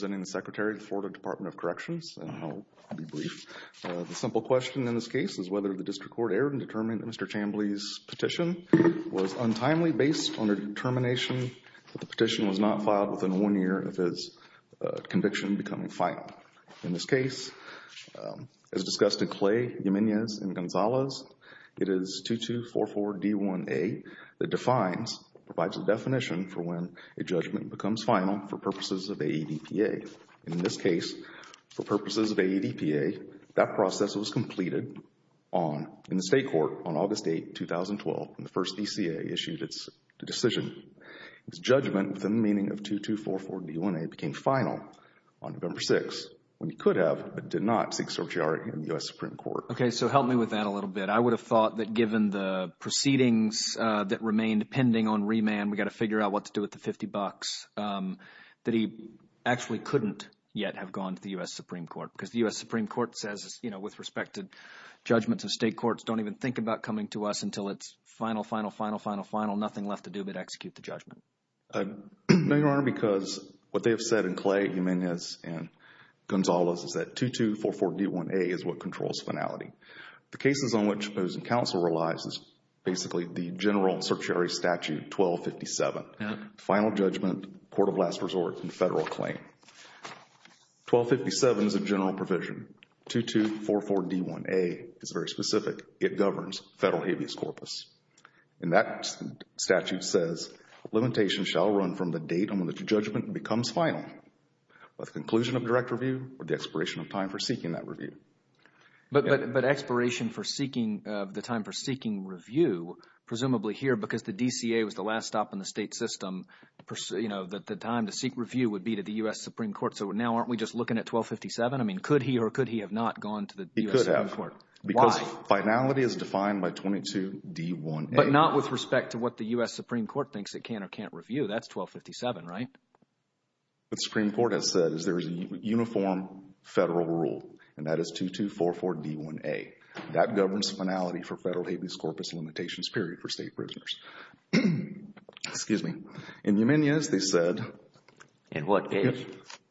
I'm representing the Secretary of the Florida Department of Corrections, and I'll be brief. The simple question in this case is whether the district court erred in determining that Mr. Chamblee's petition was untimely based on a determination that the petition was not filed within one year of his conviction becoming final. In this case, as discussed in Clay, Jimenez, and Gonzalez, it is 2244D1A that defines, provides a definition for when a judgment becomes final for purposes of AEDPA. In this case, for purposes of AEDPA, that process was completed in the state court on August 8, 2012, when the first DCA issued its decision. His judgment, with a meaning of 2244D1A, became final on November 6, when he could have but did not seek certiorari in the U.S. Supreme Court. Okay, so help me with that a little bit. I would have thought that given the proceedings that remained pending on remand, we've got to figure out what to do with the 50 bucks, that he actually couldn't yet have gone to the U.S. Supreme Court because the U.S. Supreme Court says, you know, with respect to judgments in state courts, don't even think about coming to us until it's final, final, final, final, final. There's nothing left to do but execute the judgment. No, Your Honor, because what they have said in Clay, Jimenez, and Gonzalez is that 2244D1A is what controls finality. The cases on which opposing counsel relies is basically the general certiorari statute 1257, final judgment, court of last resort, and federal claim. 1257 is a general provision. 2244D1A is very specific. It governs federal habeas corpus. And that statute says, limitation shall run from the date on which judgment becomes final, with conclusion of direct review or the expiration of time for seeking that review. But expiration for seeking the time for seeking review, presumably here because the DCA was the last stop in the state system, you know, that the time to seek review would be to the U.S. Supreme Court. So now aren't we just looking at 1257? I mean, could he or could he have not gone to the U.S. Supreme Court? He could have. Why? Because finality is defined by 22D1A. But not with respect to what the U.S. Supreme Court thinks it can or can't review. That's 1257, right? What the Supreme Court has said is there is a uniform federal rule, and that is 2244D1A. That governs finality for federal habeas corpus limitations period for state prisoners. Excuse me. In Jimenez, they said. In what case?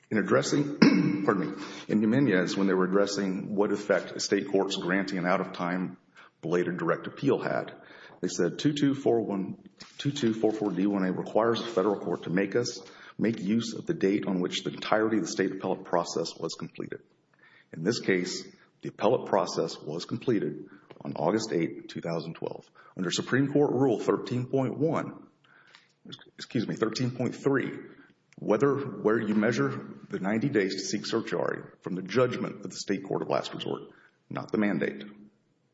In addressing. Pardon me. In Jimenez, when they were addressing what effect state courts granting an out-of-time belated direct appeal had, they said 2244D1A requires the federal court to make use of the date on which the entirety of the state appellate process was completed. In this case, the appellate process was completed on August 8, 2012. Under Supreme Court Rule 13.1, excuse me, 13.3, where you measure the 90 days to seek certiorari from the judgment of the state court of last resort, not the mandate.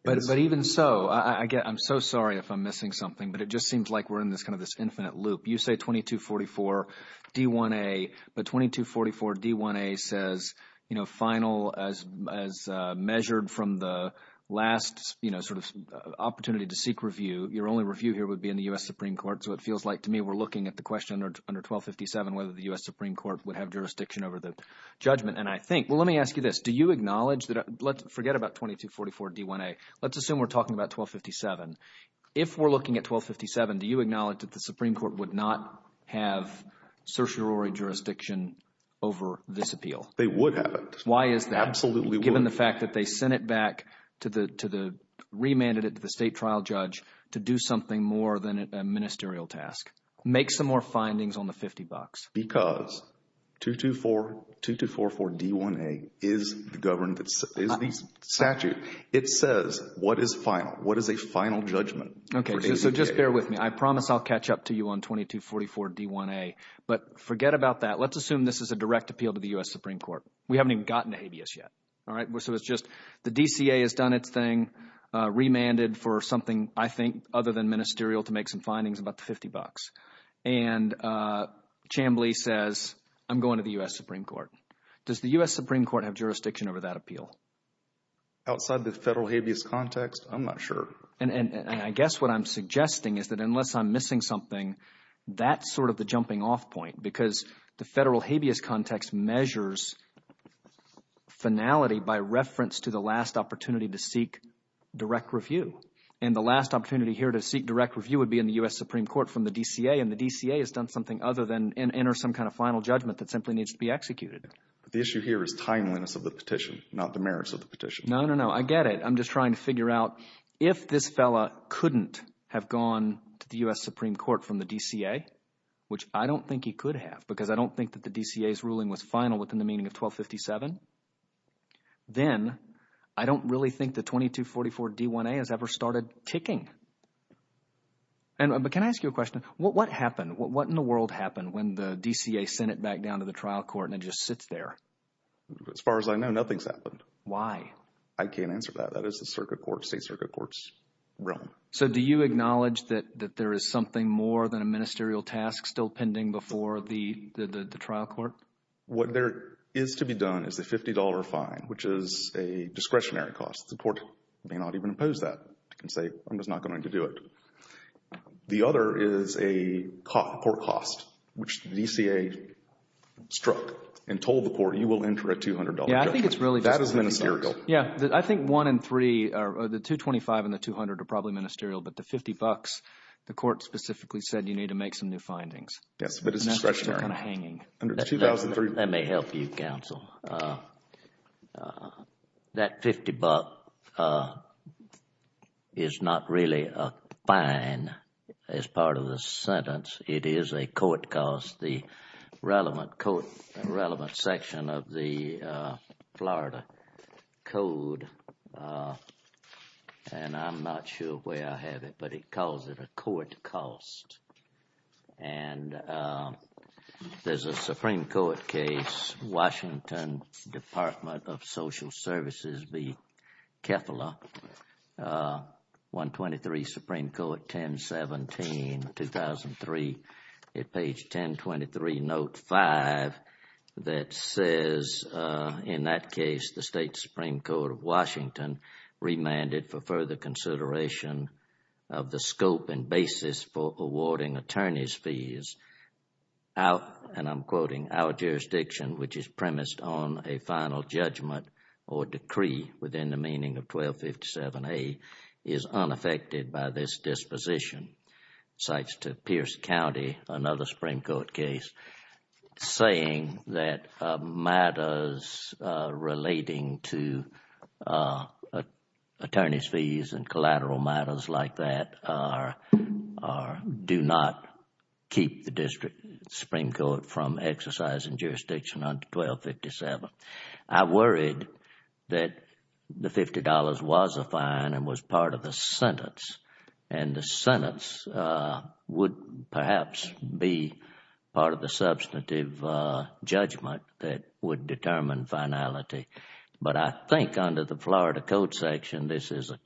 But even so, I'm so sorry if I'm missing something, but it just seems like we're in this kind of this infinite loop. You say 2244D1A, but 2244D1A says final as measured from the last sort of opportunity to seek review. Your only review here would be in the U.S. Supreme Court. So it feels like to me we're looking at the question under 1257 whether the U.S. Supreme Court would have jurisdiction over the judgment. And I think – well, let me ask you this. Do you acknowledge that – forget about 2244D1A. Let's assume we're talking about 1257. If we're looking at 1257, do you acknowledge that the Supreme Court would not have certiorari jurisdiction over this appeal? They would have it. Why is that? Absolutely would. Given the fact that they sent it back to the – remanded it to the state trial judge to do something more than a ministerial task. Make some more findings on the 50 bucks. Because 2244D1A is the statute. It says what is final. What is a final judgment? Okay. So just bear with me. I promise I'll catch up to you on 2244D1A. But forget about that. Let's assume this is a direct appeal to the U.S. Supreme Court. We haven't even gotten to habeas yet. So it's just the DCA has done its thing, remanded for something, I think, other than ministerial to make some findings about the 50 bucks. And Chambly says I'm going to the U.S. Supreme Court. Does the U.S. Supreme Court have jurisdiction over that appeal? Outside the federal habeas context, I'm not sure. And I guess what I'm suggesting is that unless I'm missing something, that's sort of the jumping off point because the federal habeas context measures finality by reference to the last opportunity to seek direct review. And the last opportunity here to seek direct review would be in the U.S. Supreme Court from the DCA. And the DCA has done something other than enter some kind of final judgment that simply needs to be executed. The issue here is timeliness of the petition, not the merits of the petition. No, no, no. I get it. I'm just trying to figure out if this fellow couldn't have gone to the U.S. Supreme Court from the DCA, which I don't think he could have because I don't think that the DCA's ruling was final within the meaning of 1257. Then I don't really think the 2244 D1A has ever started ticking. But can I ask you a question? What happened? What in the world happened when the DCA sent it back down to the trial court and it just sits there? As far as I know, nothing's happened. Why? I can't answer that. That is the circuit court, state circuit court's realm. So do you acknowledge that there is something more than a ministerial task still pending before the trial court? What there is to be done is a $50 fine, which is a discretionary cost. The court may not even impose that. It can say, I'm just not going to do it. The other is a court cost, which the DCA struck and told the court, you will enter a $200 judgment. Yeah, I think it's really just ministerial. That is ministerial. Yeah, I think one in three, the 225 and the 200 are probably ministerial. But the 50 bucks, the court specifically said you need to make some new findings. Yes, but it's discretionary. Let me help you, counsel. That $50 is not really a fine as part of the sentence. It is a court cost. The relevant section of the Florida Code, and I'm not sure where I have it, but it calls it a court cost. There is a Supreme Court case, Washington Department of Social Services v. Kefla, 123 Supreme Court 1017, 2003. At page 1023, note 5, that says, in that case, the State Supreme Court of Washington remanded for further consideration of the scope and basis for awarding attorney's fees. And I'm quoting, our jurisdiction, which is premised on a final judgment or decree within the meaning of 1257A, is unaffected by this disposition. Cites to Pierce County, another Supreme Court case, saying that matters relating to attorney's fees and collateral matters like that do not keep the Supreme Court from exercising jurisdiction under 1257. I'm worried that the $50 was a fine and was part of the sentence, and the sentence would perhaps be part of the substantive judgment that would determine finality. But I think under the Florida Code section, this is a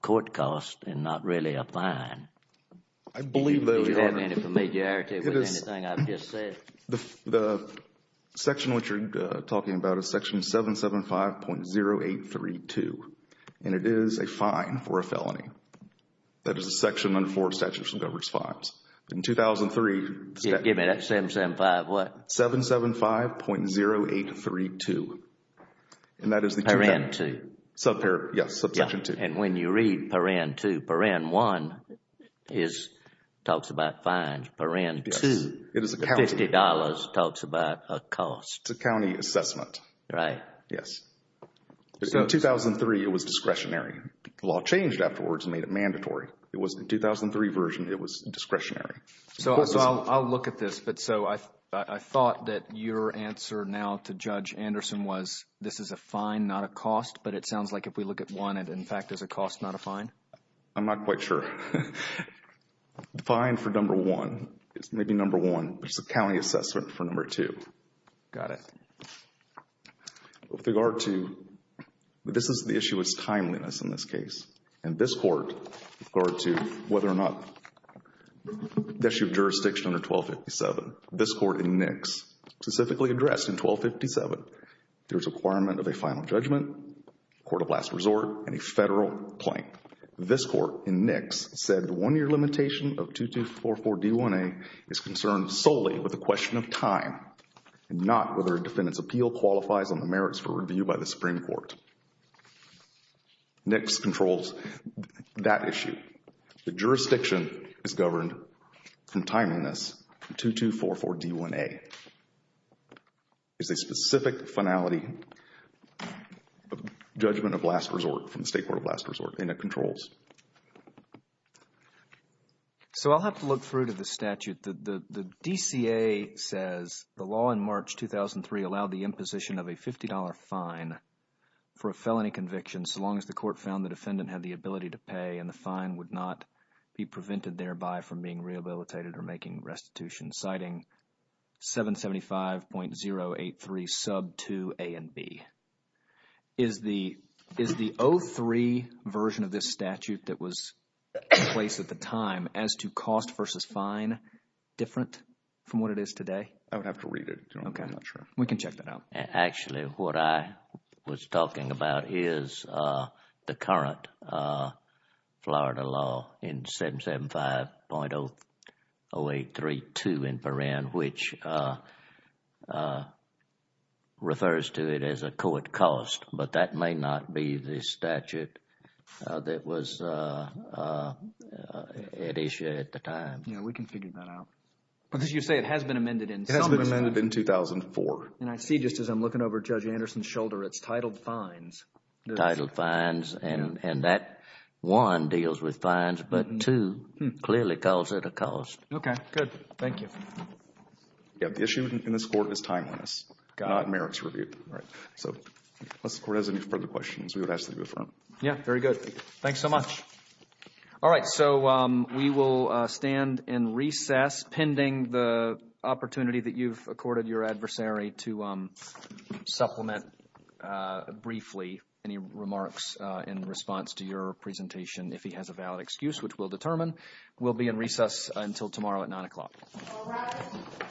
court cost and not really a fine. I believe that, Your Honor. Do you have any familiarity with anything I've just said? The section which you're talking about is section 775.0832, and it is a fine for a felony. That is a section under Florida Statute that governs fines. In 2003, Give me that 775 what? 775.0832, and that is the Parent 2. Yes, subsection 2. And when you read Parent 2, Parent 1 talks about fines. Parent 2, $50, talks about a cost. It's a county assessment. Right. Yes. In 2003, it was discretionary. The law changed afterwards and made it mandatory. It wasn't a 2003 version. It was discretionary. So I'll look at this. But so I thought that your answer now to Judge Anderson was this is a fine, not a cost. But it sounds like if we look at one, it, in fact, is a cost, not a fine. I'm not quite sure. The fine for number 1 is maybe number 1, but it's a county assessment for number 2. Got it. With regard to, this is the issue of timeliness in this case. And this Court, with regard to whether or not, the issue of jurisdiction under 1257, this Court in Nix, specifically addressed in 1257, there's a requirement of a final judgment, court of last resort, and a federal claim. This Court in Nix said the one-year limitation of 2244 D1A is concerned solely with a question of time, and not whether a defendant's appeal qualifies on the merits for review by the Supreme Court. Nix controls that issue. The jurisdiction is governed from timeliness. 2244 D1A is a specific finality judgment of last resort from the State Court of Last Resort, and it controls. So I'll have to look through to the statute. The DCA says the law in March 2003 allowed the imposition of a $50 fine for a felony conviction so long as the court found the defendant had the ability to pay, and the fine would not be prevented thereby from being rehabilitated or making restitution, citing 775.083 sub 2 A and B. Is the 03 version of this statute that was in place at the time as to cost versus fine different from what it is today? I would have to read it. Okay. We can check that out. Actually, what I was talking about is the current Florida law in 775.0832 in Perrin, which refers to it as a court cost, but that may not be the statute that was at issue at the time. Yeah, we can figure that out. But as you say, it has been amended in some respect. It has been amended in 2004. And I see just as I'm looking over Judge Anderson's shoulder, it's titled fines. Titled fines, and that, one, deals with fines, but, two, clearly calls it a cost. Okay, good. Thank you. Yeah, the issue in this court is timeliness, not merits review. All right. So unless the court has any further questions, we would ask that you affirm. Yeah, very good. Thanks so much. All right. So we will stand in recess pending the opportunity that you've accorded your adversary to supplement briefly any remarks in response to your presentation. If he has a valid excuse, which we'll determine. We'll be in recess until tomorrow at 9 o'clock. All right.